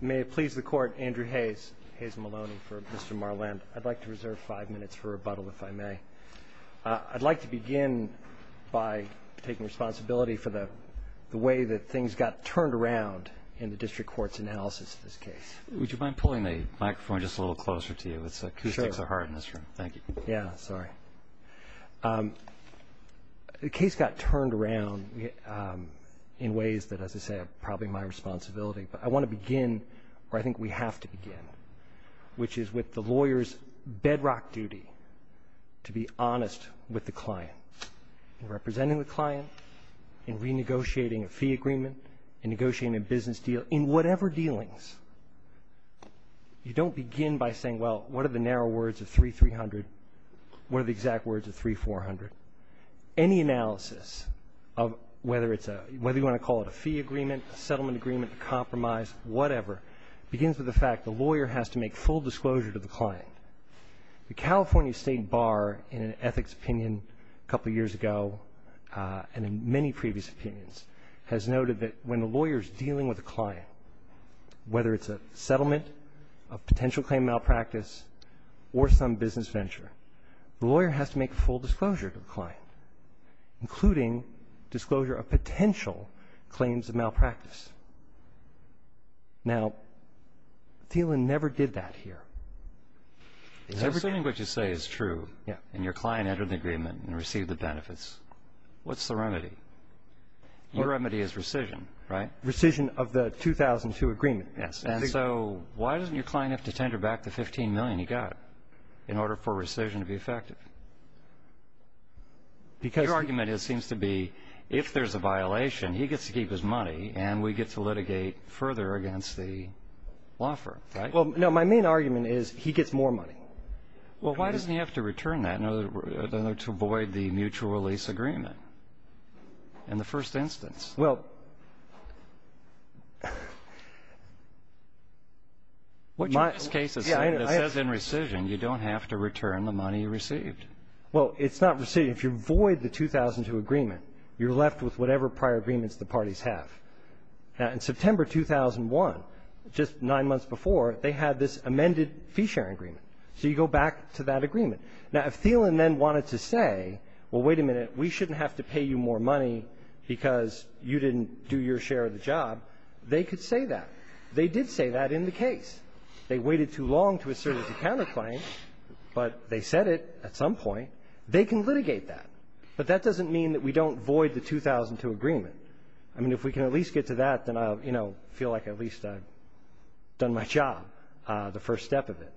May it please the Court, Andrew Hayes, Hayes Maloney for Mr. Marland. I'd like to reserve five minutes for rebuttal, if I may. I'd like to begin by taking responsibility for the way that things got turned around in the district court's analysis of this case. Would you mind pulling the microphone just a little closer to you? Sure. It's acoustics are hard in this room. Thank you. Yeah, sorry. The case got turned around in ways that, as I said, are probably my responsibility. But I want to begin, or I think we have to begin, which is with the lawyer's bedrock duty to be honest with the client. In representing the client, in renegotiating a fee agreement, in negotiating a business deal, in whatever dealings, you don't begin by saying, well, what are the narrow words of 3,300, what are the exact words of 3,400. Any analysis of whether you want to call it a fee agreement, a settlement agreement, a compromise, whatever, begins with the fact the lawyer has to make full disclosure to the client. The California State Bar, in an ethics opinion a couple of years ago, and in many previous opinions, has noted that when a lawyer is dealing with a client, whether it's a settlement, a potential claim malpractice, or some business venture, the lawyer has to make full disclosure to the client, including disclosure of potential claims of malpractice. Now, Thielen never did that here. Assuming what you say is true, and your client entered the agreement and received the benefits, what's the remedy? Your remedy is rescission, right? Rescission of the 2002 agreement. Yes. And so why doesn't your client have to tender back the $15 million he got in order for rescission to be effective? Because your argument seems to be if there's a violation, he gets to keep his money, and we get to litigate further against the law firm, right? Well, no, my main argument is he gets more money. Well, why doesn't he have to return that in order to avoid the mutual release agreement in the first instance? Well, my ---- This case says in rescission you don't have to return the money you received. Well, it's not rescission. If you void the 2002 agreement, you're left with whatever prior agreements the parties have. Now, in September 2001, just nine months before, they had this amended fee-sharing agreement. So you go back to that agreement. Now, if Thielen then wanted to say, well, wait a minute, we shouldn't have to pay you more money because you didn't do your share of the job, they could say that. They did say that in the case. They waited too long to assert as a counterclaim, but they said it at some point. They can litigate that. But that doesn't mean that we don't void the 2002 agreement. I mean, if we can at least get to that, then I'll, you know, feel like at least I've done my job, the first step of it.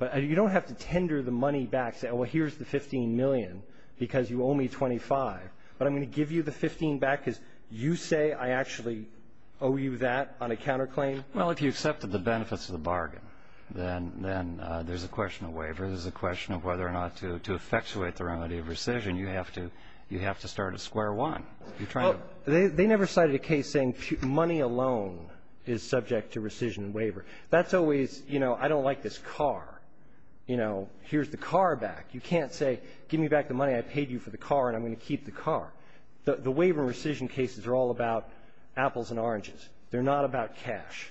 But you don't have to tender the money back, say, well, here's the $15 million because you owe me $25. But I'm going to give you the $15 back because you say I actually owe you that on a counterclaim? Well, if you accepted the benefits of the bargain, then there's a question of waiver. There's a question of whether or not to effectuate the remedy of rescission. You have to start at square one. They never cited a case saying money alone is subject to rescission and waiver. That's always, you know, I don't like this car. You know, here's the car back. You can't say give me back the money I paid you for the car and I'm going to keep the car. The waiver rescission cases are all about apples and oranges. They're not about cash.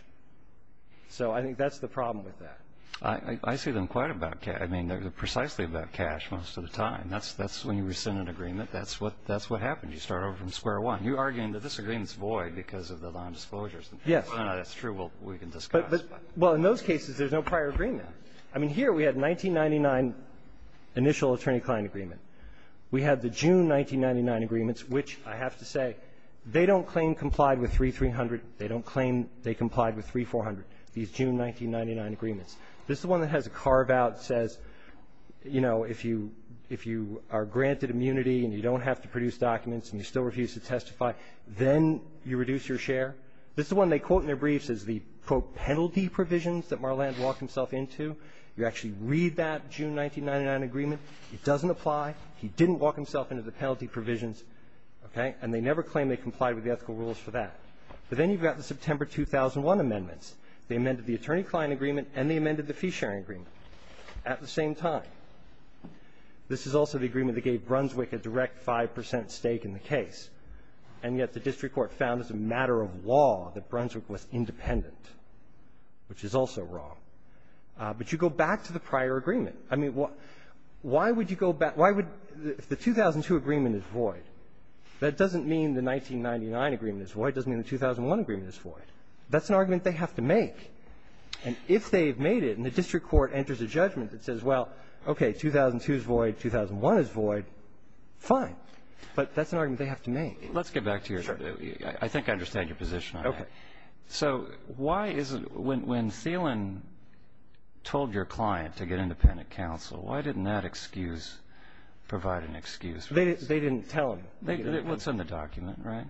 So I think that's the problem with that. I see them quite about cash. I mean, they're precisely about cash most of the time. That's when you rescind an agreement. That's what happens. You start over from square one. You're arguing that this agreement's void because of the non-disclosures. Yes. That's true. We can discuss. Well, in those cases, there's no prior agreement. I mean, here we had 1999 initial attorney-client agreement. We had the June 1999 agreements, which I have to say, they don't claim complied with 3300. They don't claim they complied with 3400, these June 1999 agreements. This is one that has a carve-out that says, you know, if you are granted immunity and you don't have to produce documents and you still refuse to testify, then you reduce your share. This is one they quote in their briefs as the, quote, penalty provisions that Marland walked himself into. You actually read that June 1999 agreement. It doesn't apply. He didn't walk himself into the penalty provisions, okay, and they never claim they complied with the ethical rules for that. But then you've got the September 2001 amendments. They amended the attorney-client agreement and they amended the fee-sharing agreement at the same time. This is also the agreement that gave Brunswick a direct 5 percent stake in the case, and yet the district court found as a matter of law that Brunswick was independent, which is also wrong. But you go back to the prior agreement. I mean, why would you go back? Why would the 2002 agreement is void? That doesn't mean the 1999 agreement is void. It doesn't mean the 2001 agreement is void. That's an argument they have to make. And if they have made it and the district court enters a judgment that says, well, okay, 2002 is void, 2001 is void, fine. But that's an argument they have to make. Let's get back to your – I think I understand your position on that. Okay. So why is it when Thielen told your client to get independent counsel, why didn't that excuse provide an excuse? They didn't tell him. What's in the document, right?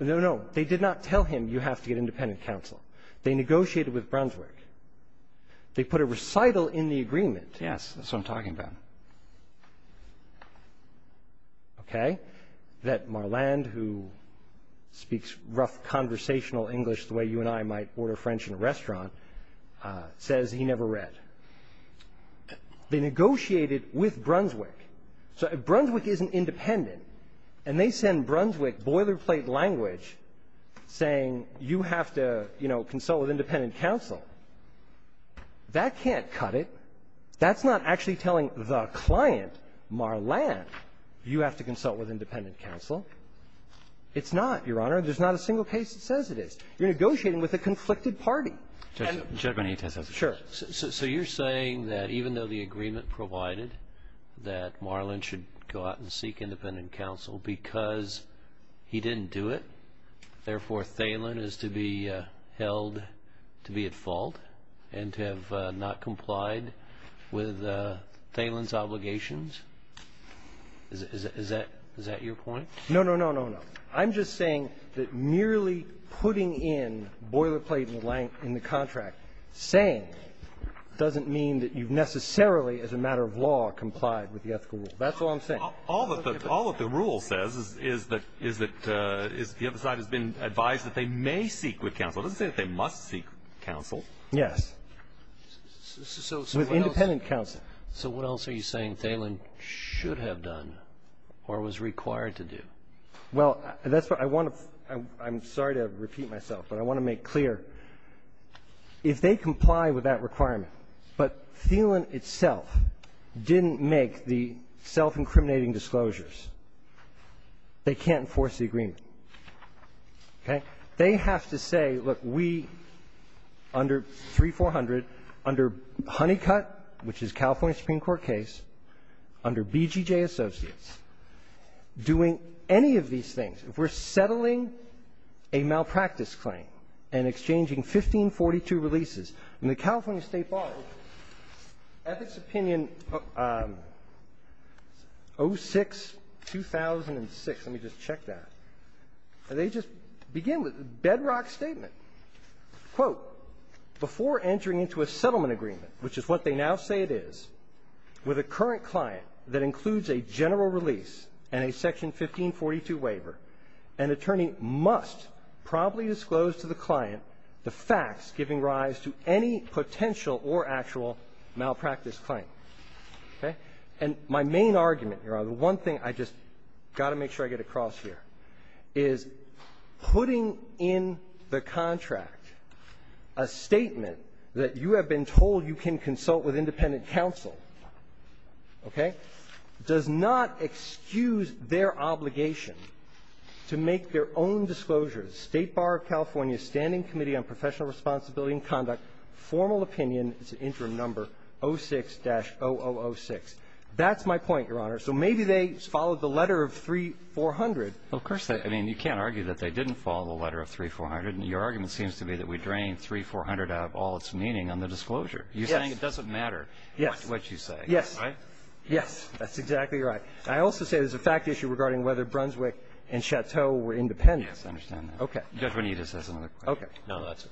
No, no. They did not tell him you have to get independent counsel. They negotiated with Brunswick. They put a recital in the agreement. Yes, that's what I'm talking about. Okay. That Marland, who speaks rough conversational English the way you and I might order French in a restaurant, says he never read. They negotiated with Brunswick. So if Brunswick isn't independent and they send Brunswick boilerplate language saying you have to, you know, consult with independent counsel, that can't cut it. That's not actually telling the client, Marland, you have to consult with independent counsel. It's not, Your Honor. There's not a single case that says it is. You're negotiating with a conflicted party. And – Mr. Chaffetz. Sure. So you're saying that even though the agreement provided that Marland should go out and seek independent counsel because he didn't do it, therefore, Thielen is to be held to be at fault and to have not complied with Thielen's obligations? Is that your point? No, no, no, no, no. I'm just saying that merely putting in boilerplate in the contract saying doesn't mean that you've necessarily, as a matter of law, complied with the ethical rule. That's all I'm saying. All that the rule says is that the other side has been advised that they may seek with counsel. It doesn't say that they must seek counsel. Yes. With independent counsel. So what else are you saying Thielen should have done or was required to do? Well, that's what I want to – I'm sorry to repeat myself, but I want to make clear. If they comply with that requirement, but Thielen itself didn't make the self-incriminating disclosures, they can't enforce the agreement. Okay? They have to say, look, we, under 3400, under Honeycutt, which is California Supreme Court case, under BGJ Associates, doing any of these things, if we're settling a malpractice claim and exchanging 1542 releases in the California State Bar, at its bedrock statement, quote, before entering into a settlement agreement, which is what they now say it is, with a current client that includes a general release and a section 1542 waiver, an attorney must promptly disclose to the client the facts giving rise to any potential or actual malpractice claim. Okay? And my main argument here, the one thing I just got to make sure I get across here, is putting in the contract a statement that you have been told you can consult with independent counsel, okay, does not excuse their obligation to make their own disclosures. State Bar of California Standing Committee on Professional Responsibility and Conduct, formal opinion, it's an interim number, 06-0006. That's my point, Your Honor. So maybe they followed the letter of 3400. Of course. I mean, you can't argue that they didn't follow the letter of 3400. Your argument seems to be that we drained 3400 out of all its meaning on the disclosure. You're saying it doesn't matter what you say. Yes. Right? Yes. That's exactly right. I also say there's a fact issue regarding whether Brunswick and Chateau were independent. Yes. I understand that. Okay. Judge Bonita says another question. Okay. No, that's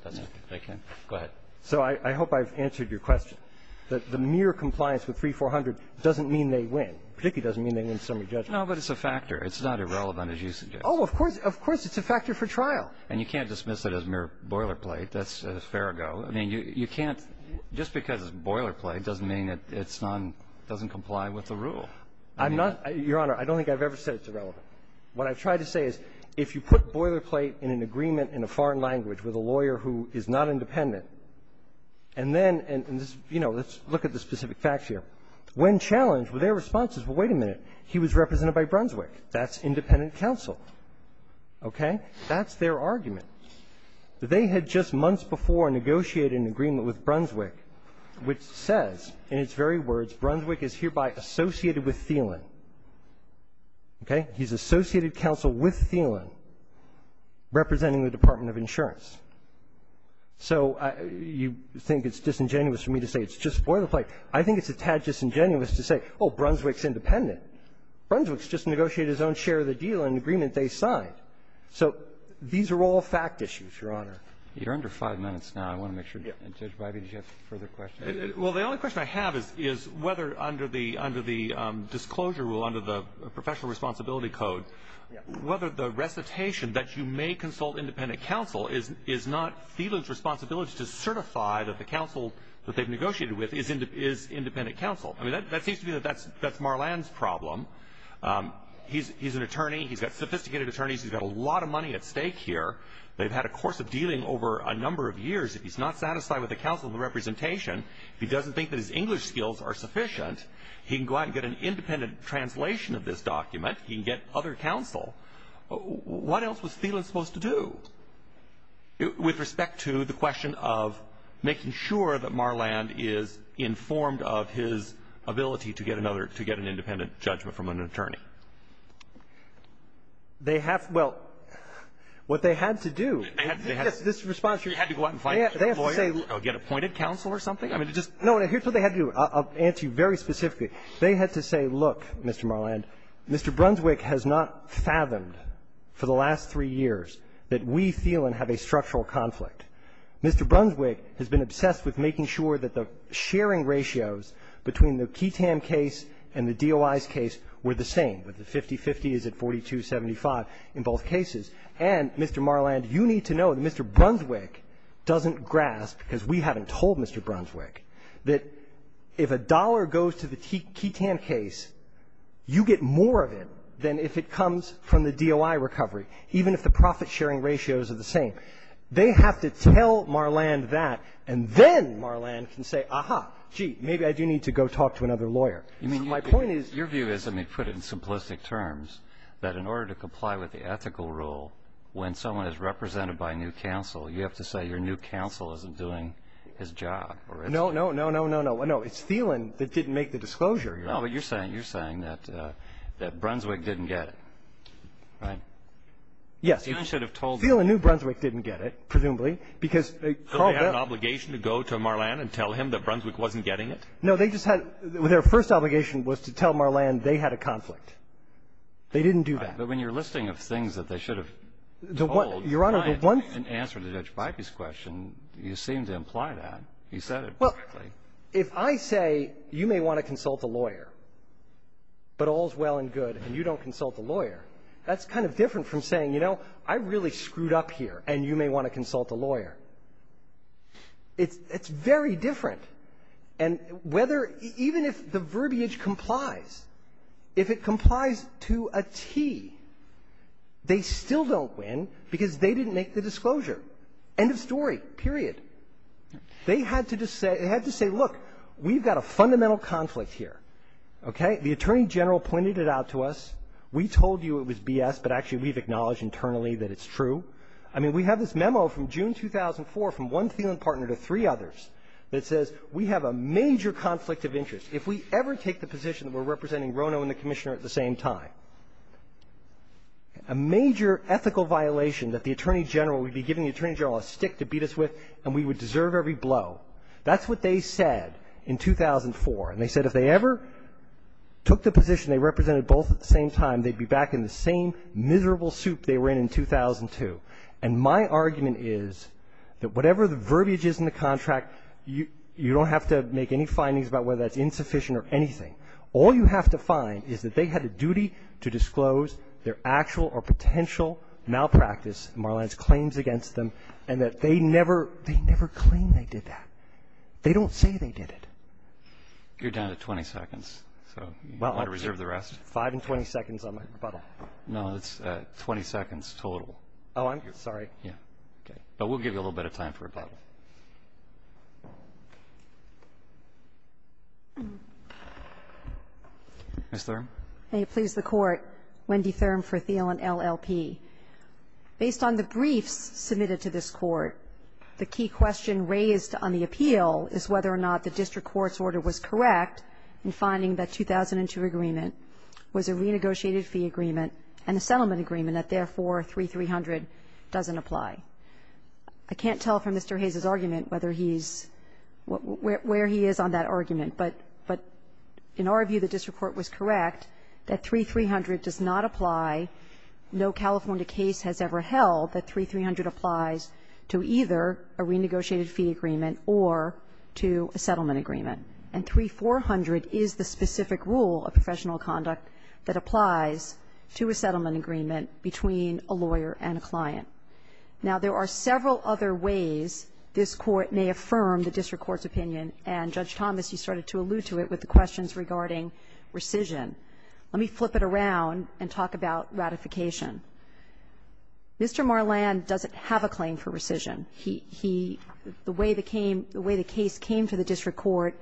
okay. Go ahead. So I hope I've answered your question, that the mere compliance with 3400 doesn't mean they win, particularly doesn't mean they win summary judgment. No, but it's a factor. It's not irrelevant, as you suggest. Oh, of course. Of course. It's a factor for trial. And you can't dismiss it as mere boilerplate. That's a fair go. I mean, you can't just because it's boilerplate doesn't mean it's not doesn't comply with the rule. I'm not, Your Honor, I don't think I've ever said it's irrelevant. What I've tried to say is if you put boilerplate in an agreement in a foreign language with a lawyer who is not independent, and then you know, let's look at the specific facts here. When challenged, their response is, well, wait a minute. He was represented by Brunswick. That's independent counsel. Okay. That's their argument. They had just months before negotiated an agreement with Brunswick which says, in its very words, Brunswick is hereby associated with Thielen. Okay. He's associated counsel with Thielen representing the Department of Insurance. So you think it's disingenuous for me to say it's just boilerplate. I think it's a tad disingenuous to say, oh, Brunswick's independent. Brunswick's just negotiated his own share of the deal in an agreement they signed. So these are all fact issues, Your Honor. You're under five minutes now. I want to make sure. Yeah. And, Judge Bidey, did you have further questions? Well, the only question I have is whether under the disclosure rule, under the professional responsibility code, whether the recitation that you may consult independent counsel is not Thielen's responsibility to certify that the counsel that they've negotiated with is independent counsel. I mean, that seems to me that that's Marlan's problem. He's an attorney. He's got sophisticated attorneys. He's got a lot of money at stake here. They've had a course of dealing over a number of years. If he's not satisfied with the counsel and the representation, if he doesn't think that his English skills are sufficient, he can go out and get an independent translation of this document. He can get other counsel. What else was Thielen supposed to do with respect to the question of making sure that Marlan is informed of his ability to get another – to get an independent judgment from an attorney? They have – well, what they had to do – They had to – they had to – Yes, this is a response. You had to go out and find a lawyer or get appointed counsel or something? I mean, it just – No, and here's what they had to do. I'll answer you very specifically. They had to say, look, Mr. Marlan, Mr. Brunswick has not fathomed for the last three years that we, Thielen, have a structural conflict. Mr. Brunswick has been obsessed with making sure that the sharing ratios between the Keetam case and the DOI's case were the same, that the 50-50 is at 42-75 in both cases. And, Mr. Marlan, you need to know that Mr. Brunswick doesn't grasp, because we haven't told Mr. Brunswick, that if a dollar goes to the Keetam case, you get more of it than if it comes from the DOI recovery, even if the profit-sharing ratios are the same. They have to tell Marlan that, and then Marlan can say, aha, gee, maybe I do need to go talk to another lawyer. My point is – I mean, your view is – I mean, put it in simplistic terms, that in order to comply with the ethical rule, when someone is represented by new counsel, you have to say that your new counsel isn't doing his job. No, no, no, no, no, no, no. It's Thielen that didn't make the disclosure. No, but you're saying that Brunswick didn't get it, right? Yes. Thielen should have told me. Thielen knew Brunswick didn't get it, presumably, because they called out – So they had an obligation to go to Marlan and tell him that Brunswick wasn't getting it? No, they just had – their first obligation was to tell Marlan they had a conflict. They didn't do that. But when you're listing of things that they should have told, why didn't they answer Judge Bybee's question, you seem to imply that. He said it perfectly. Well, if I say, you may want to consult a lawyer, but all is well and good, and you don't consult the lawyer, that's kind of different from saying, you know, I really screwed up here, and you may want to consult a lawyer. It's very different. And whether – even if the verbiage complies, if it complies to a T, they still don't win, because they didn't make the disclosure. End of story, period. They had to just say – they had to say, look, we've got a fundamental conflict here. Okay? The Attorney General pointed it out to us. We told you it was B.S., but actually, we've acknowledged internally that it's true. I mean, we have this memo from June 2004 from one Thielen partner to three others that says we have a major conflict of interest. If we ever take the position that we're representing Rono and the Commissioner at the same time, a major ethical violation that the Attorney General – we'd be giving the Attorney General a stick to beat us with, and we would deserve every blow. That's what they said in 2004. And they said if they ever took the position they represented both at the same time, they'd be back in the same miserable soup they were in in 2002. And my argument is that whatever the verbiage is in the contract, you don't have to make any findings about whether that's insufficient or anything. All you have to find is that they had a duty to disclose their actual or potential malpractice in Marlans' claims against them, and that they never – they never claim they did that. They don't say they did it. You're down to 20 seconds. So you want to reserve the rest? Five and 20 seconds on my rebuttal. No, it's 20 seconds total. Oh, I'm – sorry. Yeah. Okay. But we'll give you a little bit of time for rebuttal. Ms. Thurm. May it please the Court, Wendy Thurm for Thiel and LLP. Based on the briefs submitted to this Court, the key question raised on the appeal is whether or not the district court's order was correct in finding that 2002 agreement was a renegotiated fee agreement and a settlement agreement, that therefore, 3-300 doesn't apply. I can't tell from Mr. Hayes' argument whether he's – where he is on that argument, but in our view, the district court was correct that 3-300 does not apply. No California case has ever held that 3-300 applies to either a renegotiated fee agreement or to a settlement agreement. And 3-400 is the specific rule of professional conduct that applies to a settlement agreement between a lawyer and a client. Now, there are several other ways this Court may affirm the district court's opinion, and Judge Thomas, you started to allude to it with the questions regarding rescission. Let me flip it around and talk about ratification. Mr. Marlan doesn't have a claim for rescission. He – the way the case came to the district court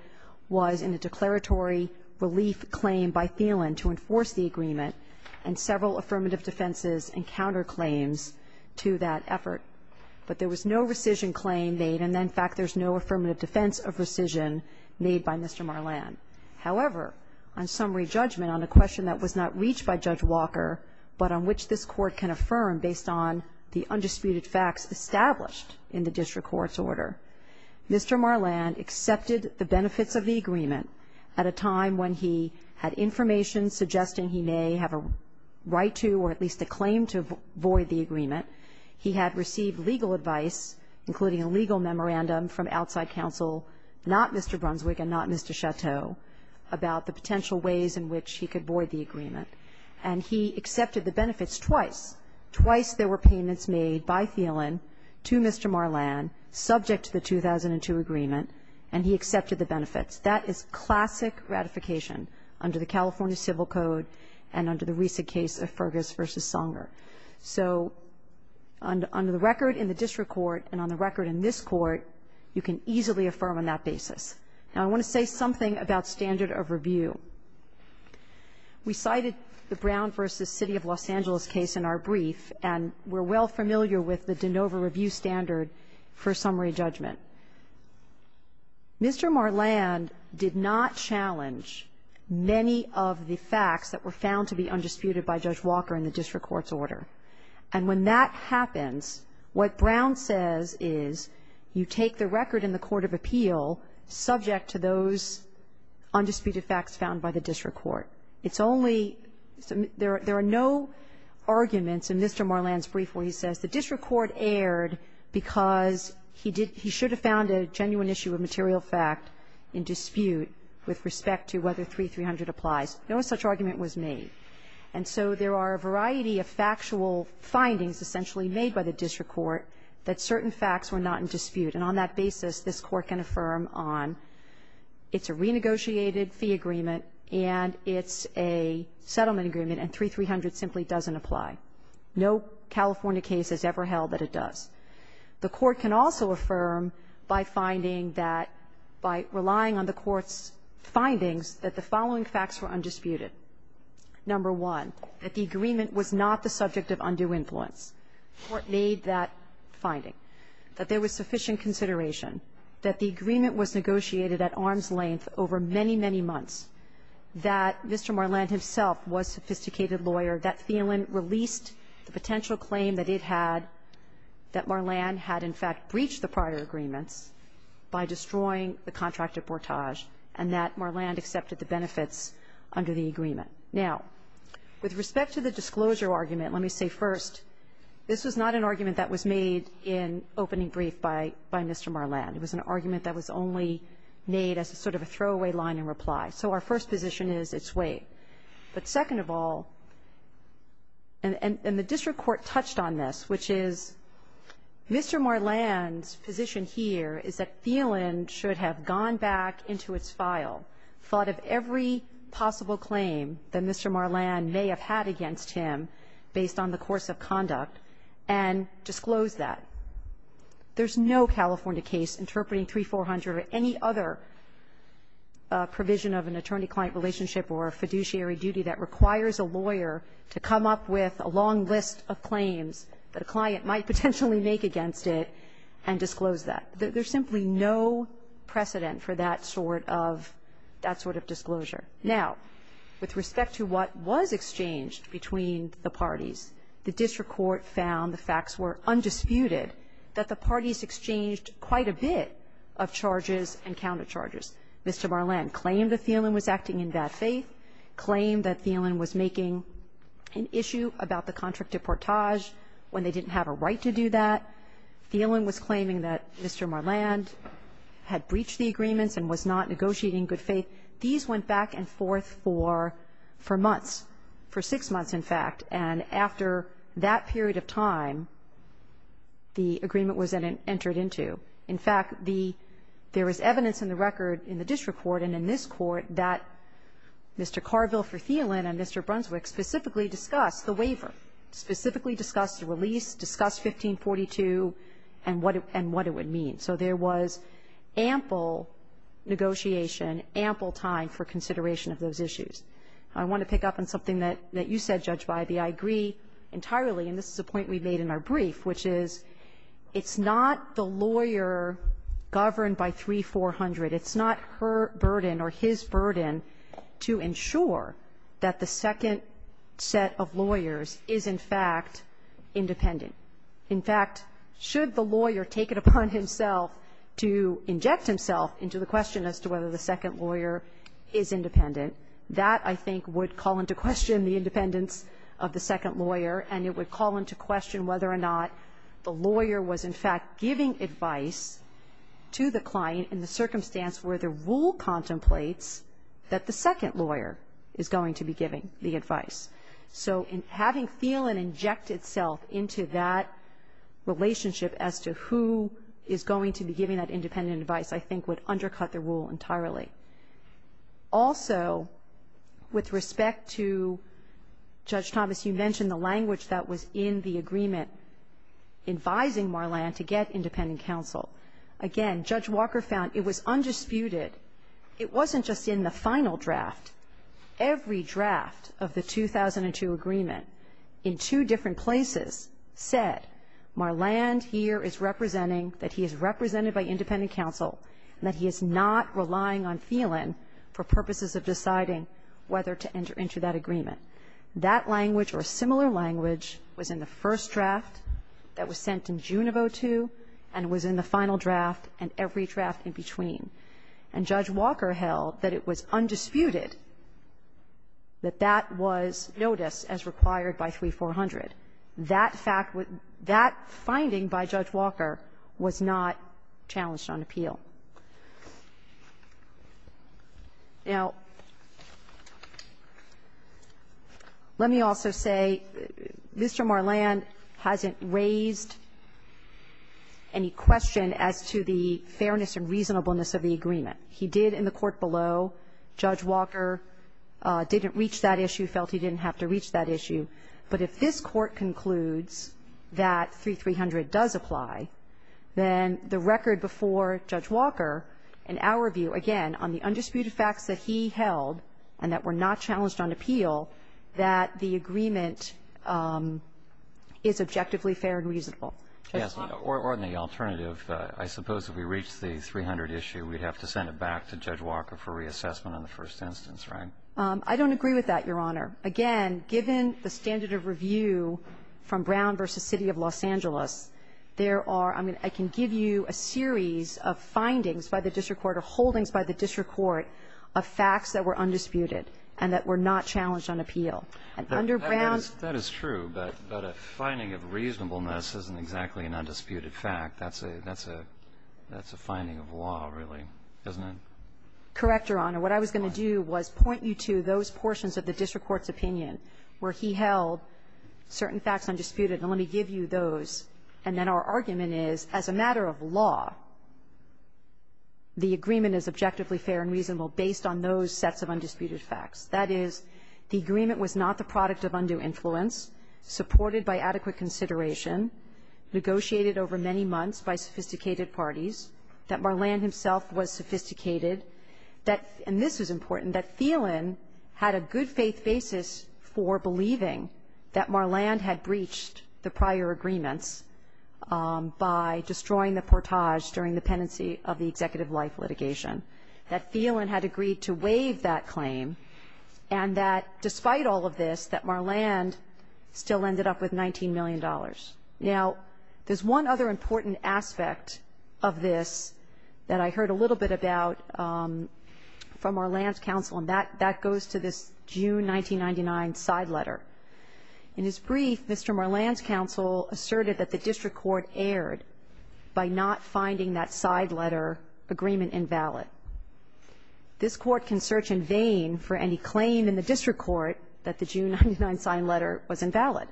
was in a declaratory relief claim by Thielen to enforce the agreement, and several affirmative defenses and counterclaims to that effort. But there was no rescission claim made, and in fact, there's no affirmative defense of rescission made by Mr. Marlan. However, on summary judgment on a question that was not reached by Judge Walker, but on which this Court can affirm based on the undisputed facts established in the district court's order, Mr. Marlan accepted the benefits of the agreement at a time when he had information suggesting he may have a right to or at least a claim to void the agreement. He had received legal advice, including a legal memorandum from outside counsel, not Mr. Brunswick and not Mr. Chateau, about the potential ways in which he could void the agreement. And he accepted the benefits twice. Twice there were payments made by Thielen to Mr. Marlan subject to the 2002 agreement, and he accepted the benefits. That is classic ratification under the California Civil Code and under the recent case of Fergus v. Songer. So under the record in the district court and on the record in this Court, you can easily affirm on that basis. Now, I want to say something about standard of review. We cited the Brown v. City of Los Angeles case in our brief, and we're well familiar with the de novo review standard for summary judgment. Mr. Marlan did not challenge many of the facts that were found to be undisputed in the district court's order. And when that happens, what Brown says is you take the record in the court of appeal subject to those undisputed facts found by the district court. It's only – there are no arguments in Mr. Marlan's brief where he says the district court erred because he should have found a genuine issue of material fact in dispute with respect to whether 3300 applies. No such argument was made. And so there are a variety of factual findings essentially made by the district court that certain facts were not in dispute. And on that basis, this Court can affirm on it's a renegotiated fee agreement and it's a settlement agreement and 3300 simply doesn't apply. No California case has ever held that it does. The Court can also affirm by finding that – by relying on the Court's findings that the following facts were undisputed. Number one, that the agreement was not the subject of undue influence. Court made that finding, that there was sufficient consideration, that the agreement was negotiated at arm's length over many, many months, that Mr. Marlan himself was a sophisticated lawyer, that Thielen released the potential claim that it had that Marlan had in fact breached the prior agreements by destroying the contract and that Marlan accepted the benefits under the agreement. Now, with respect to the disclosure argument, let me say first, this was not an argument that was made in opening brief by Mr. Marlan. It was an argument that was only made as sort of a throwaway line in reply. So our first position is it's waived. But second of all, and the district court touched on this, which is Mr. Marlan's position here is that Thielen should have gone back into its file, thought of every possible claim that Mr. Marlan may have had against him based on the course of conduct, and disclosed that. There's no California case interpreting 3400 or any other provision of an attorney-client relationship or a fiduciary duty that requires a lawyer to come up with a long list of claims that a client might potentially make against it and disclose that. There's simply no precedent for that sort of disclosure. Now, with respect to what was exchanged between the parties, the district court found the facts were undisputed that the parties exchanged quite a bit of charges and countercharges. Mr. Marlan claimed that Thielen was acting in bad faith, claimed that Thielen was making an issue about the contract deportage when they didn't have a right to do that. Thielen was claiming that Mr. Marlan had breached the agreements and was not negotiating good faith. These went back and forth for months, for six months, in fact. And after that period of time, the agreement was entered into. In fact, the – there is evidence in the record in the district court and in this court that Mr. Carville for Thielen and Mr. Brunswick specifically discussed the waiver, specifically discussed the release, discussed 1542, and what it would mean. So there was ample negotiation, ample time for consideration of those issues. I want to pick up on something that you said, Judge Bybee. I agree entirely, and this is a point we made in our brief, which is it's not the lawyer governed by 3400. It's not her burden or his burden to ensure that the second set of lawyers is, in fact, independent. In fact, should the lawyer take it upon himself to inject himself into the question as to whether the second lawyer is independent, that, I think, would call into question the independence of the second lawyer, and it would call into question whether or not the lawyer was, in fact, giving advice to the client in the circumstance where the rule contemplates that the second lawyer is going to be giving the advice. So having Thielen inject itself into that relationship as to who is going to be giving that independent advice, I think, would undercut the rule entirely. Also, with respect to Judge Thomas, you mentioned the language that was in the agreement advising Marland to get independent counsel. Again, Judge Walker found it was undisputed. It wasn't just in the final draft. Every draft of the 2002 agreement in two different places said Marland here is representing that he is represented by independent counsel and that he is not relying on Thielen for purposes of deciding whether to enter into that agreement. That language or a similar language was in the first draft that was sent in June of 2002 and was in the final draft and every draft in between. And Judge Walker held that it was undisputed that that was noticed as required by 3400. That fact would be that finding by Judge Walker was not challenged on appeal. Now, let me also say, Mr. Marland hasn't raised any question as to the fairness and reasonableness of the agreement. He did in the court below, Judge Walker didn't reach that issue, felt he didn't have to reach that issue, but if this Court concludes that 3300 does apply, then the record before Judge Walker, in our view, again, on the undisputed facts that he held and that were not challenged on appeal, that the agreement is objectively fair and reasonable. Or the alternative, I suppose if we reach the 300 issue, we'd have to send it back to Judge Walker for reassessment in the first instance, right? I don't agree with that, Your Honor. Again, given the standard of review from Brown v. City of Los Angeles, there are I can give you a series of findings by the district court or holdings by the district court of facts that were undisputed and that were not challenged on appeal. And under Brown's ---- That is true, but a finding of reasonableness isn't exactly an undisputed fact. That's a finding of law, really, isn't it? Correct, Your Honor. What I was going to do was point you to those portions of the district court's opinion where he held certain facts undisputed, and let me give you those. And then our argument is, as a matter of law, the agreement is objectively fair and reasonable based on those sets of undisputed facts. That is, the agreement was not the product of undue influence, supported by adequate consideration, negotiated over many months by sophisticated parties, that Marland himself was sophisticated, that ---- and this is important, that Thielen had a good-faith basis for believing that Marland had breached the prior agreements by destroying the portage during the pendency of the executive life litigation, that Thielen had agreed to waive that claim, and that despite all of this, that Marland still ended up with $19 million. Now, there's one other important aspect of this that I heard a little bit about from Marland's counsel, and that goes to this June 1999 side letter. In his brief, Mr. Marland's counsel asserted that the district court erred by not finding that side letter agreement invalid. This Court can search in vain for any claim in the district court that the June 1999 side letter was invalid.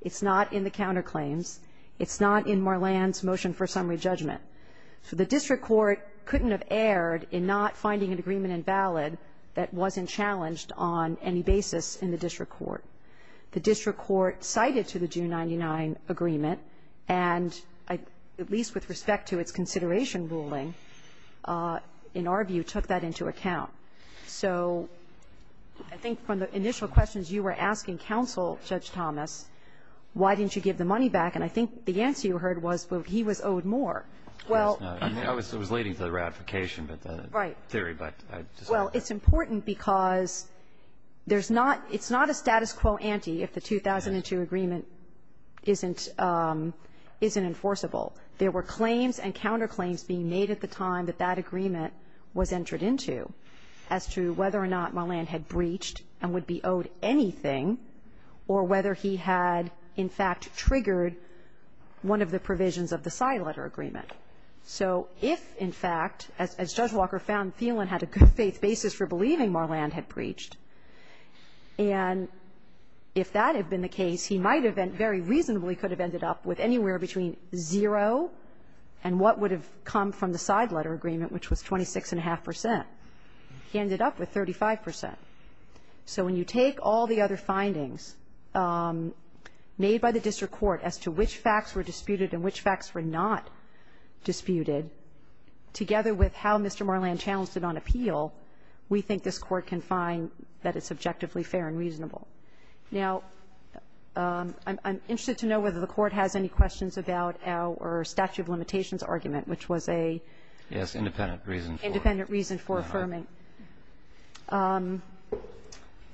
It's not in the counterclaims. It's not in Marland's motion for summary judgment. So the district court couldn't have erred in not finding an agreement invalid that wasn't challenged on any basis in the district court. The district court cited to the June 1999 agreement, and at least with respect to its consideration ruling, in our view, took that into account. So I think from the initial questions you were asking counsel, Judge Thomas, why didn't you give the money back? And I think the answer you heard was, well, he was owed more. Well. I mean, I was leading to the ratification, but the theory, but I just. Well, it's important because there's not, it's not a status quo ante if the 2002 agreement isn't, isn't enforceable. There were claims and counterclaims being made at the time that that agreement was entered into as to whether or not Marland had breached and would be owed anything, or whether he had, in fact, triggered one of the provisions of the side letter agreement. So if, in fact, as Judge Walker found Thielen had a good faith basis for believing Marland had breached, and if that had been the case, he might have been very reasonably could have ended up with anywhere between zero and what would have come from the side letter agreement, which was 26.5 percent. He ended up with 35 percent. So when you take all the other findings made by the district court as to which facts were disputed and which facts were not disputed, together with how Mr. Marland challenged it on appeal, we think this Court can find that it's objectively fair and reasonable. Now, I'm interested to know whether the Court has any questions about our statute of limitations argument, which was a. Yes, independent reason for. Independent reason for affirming.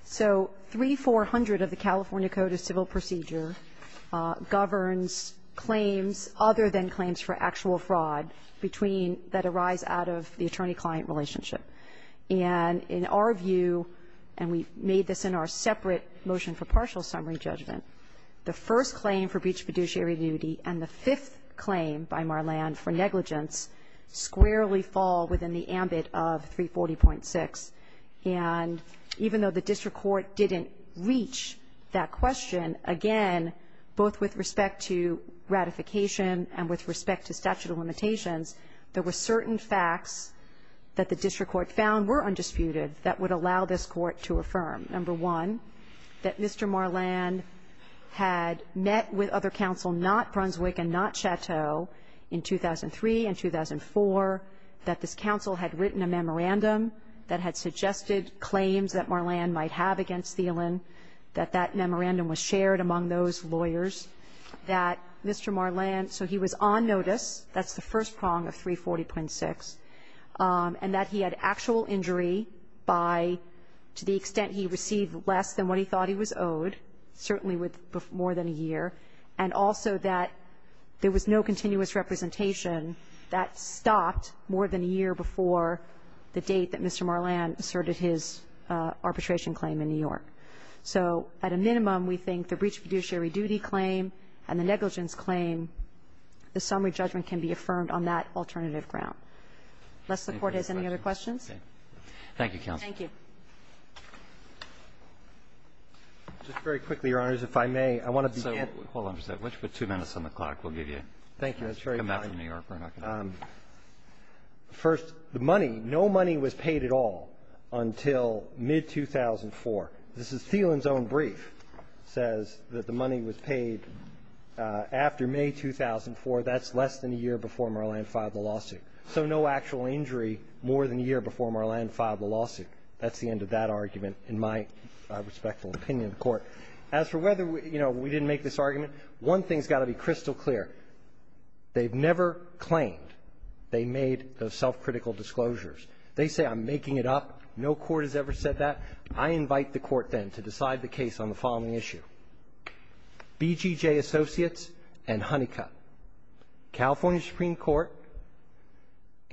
So 3400 of the California Code of Civil Procedure governs claims other than claims for actual fraud between that arise out of the attorney-client relationship. And in our view, and we made this in our separate motion for partial summary judgment, the first claim for breach of fiduciary duty and the fifth claim by Marland for negligence squarely fall within the ambit of 340.6. And even though the district court didn't reach that question, again, both with respect to ratification and with respect to statute of limitations, there were certain facts that the district court found were undisputed that would allow this Court to affirm. Number one, that Mr. Marland had met with other counsel, not Brunswick and not Chateau, in 2003 and 2004, that this counsel had written a memorandum that had suggested claims that Marland might have against Thielen, that that memorandum was shared among those lawyers, that Mr. Marland so he was on notice, that's the first prong of 340.6, and that he had actual injury by, to the extent he received less than what he thought he was owed, certainly with more than a year, and also that there was no continuous representation that stopped more than a year before the date that Mr. Marland asserted his arbitration claim in New York. So at a minimum, we think the breach of fiduciary duty claim and the negligence claim, the summary judgment can be affirmed on that alternative ground. Unless the Court has any other questions. Roberts. Thank you, counsel. Thank you. Just very quickly, Your Honors, if I may, I want to begin with the court. Hold on for a second. Let's put two minutes on the clock. We'll give you a minute. Thank you. That's very kind. Come back from New York where I'm not going to be. First, the money, no money was paid at all until mid-2004. This is Thielen's own brief, says that the money was paid after May 2004. That's less than a year before Marland filed the lawsuit. So no actual injury more than a year before Marland filed the lawsuit. That's the end of that argument, in my respectful opinion of the Court. As for whether, you know, we didn't make this argument, one thing's got to be crystal clear, they've never claimed they made those self-critical disclosures. They say, I'm making it up. No court has ever said that. I invite the Court, then, to decide the case on the following issue. BGJ Associates and Honeycutt. California Supreme Court,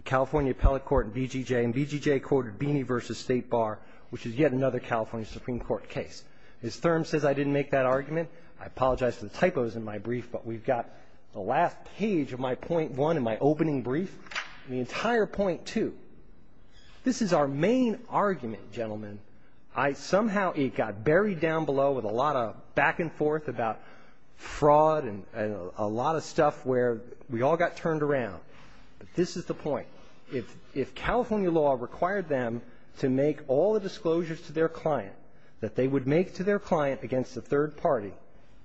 California Appellate Court and BGJ, and BGJ courted Beeney v. State Bar, which is yet another California Supreme Court case. As Thurm says, I didn't make that argument. I apologize for the typos in my brief, but we've got the last page of my point one in my opening brief, the entire point two. This is our main argument, gentlemen. I somehow, it got buried down below with a lot of back and forth about fraud and a lot of stuff where we all got turned around. But this is the point. If California law required them to make all the disclosures to their client that they would make to their client against a third party,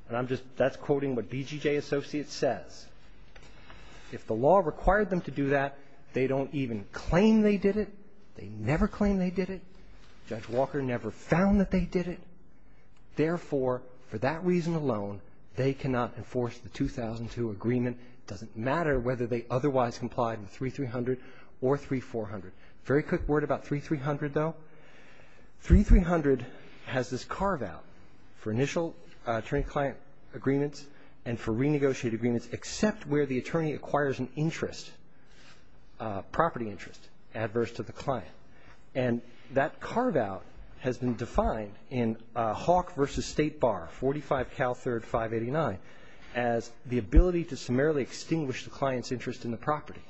and I'm just, that's quoting what BGJ Associates says. If the law required them to do that, they don't even claim they did it. They never claim they did it. Judge Walker never found that they did it. Therefore, for that reason alone, they cannot enforce the 2002 agreement. And it doesn't matter whether they otherwise complied with 3300 or 3400. Very quick word about 3300, though, 3300 has this carve out for initial attorney-client agreements and for renegotiated agreements, except where the attorney acquires an interest, property interest, adverse to the client. And that carve out has been defined in Hawk versus State Bar, 45 Cal 3rd, 589, as the ability to summarily extinguish the client's interest in the property.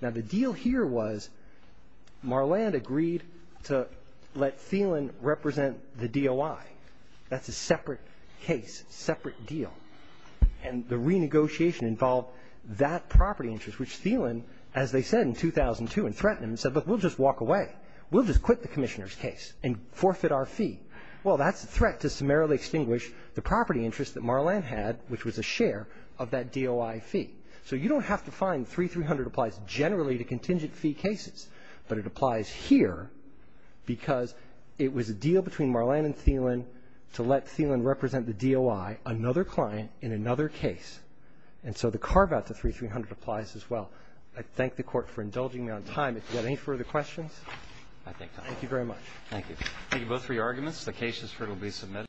Now, the deal here was Marland agreed to let Thielen represent the DOI. That's a separate case, separate deal. And the renegotiation involved that property interest, which Thielen, as they said in 2002 and threatened him and said, look, we'll just walk away. We'll just quit the commissioner's case and forfeit our fee. Well, that's a threat to summarily extinguish the property interest that Marland had, which was a share of that DOI fee. So you don't have to find 3300 applies generally to contingent fee cases. But it applies here because it was a deal between Marland and Thielen to let Thielen represent the DOI, another client in another case. And so the carve out to 3300 applies as well. I thank the Court for indulging me on time. If you have any further questions, thank you very much. Thank you. Thank you both for your arguments. The case is currently submitted.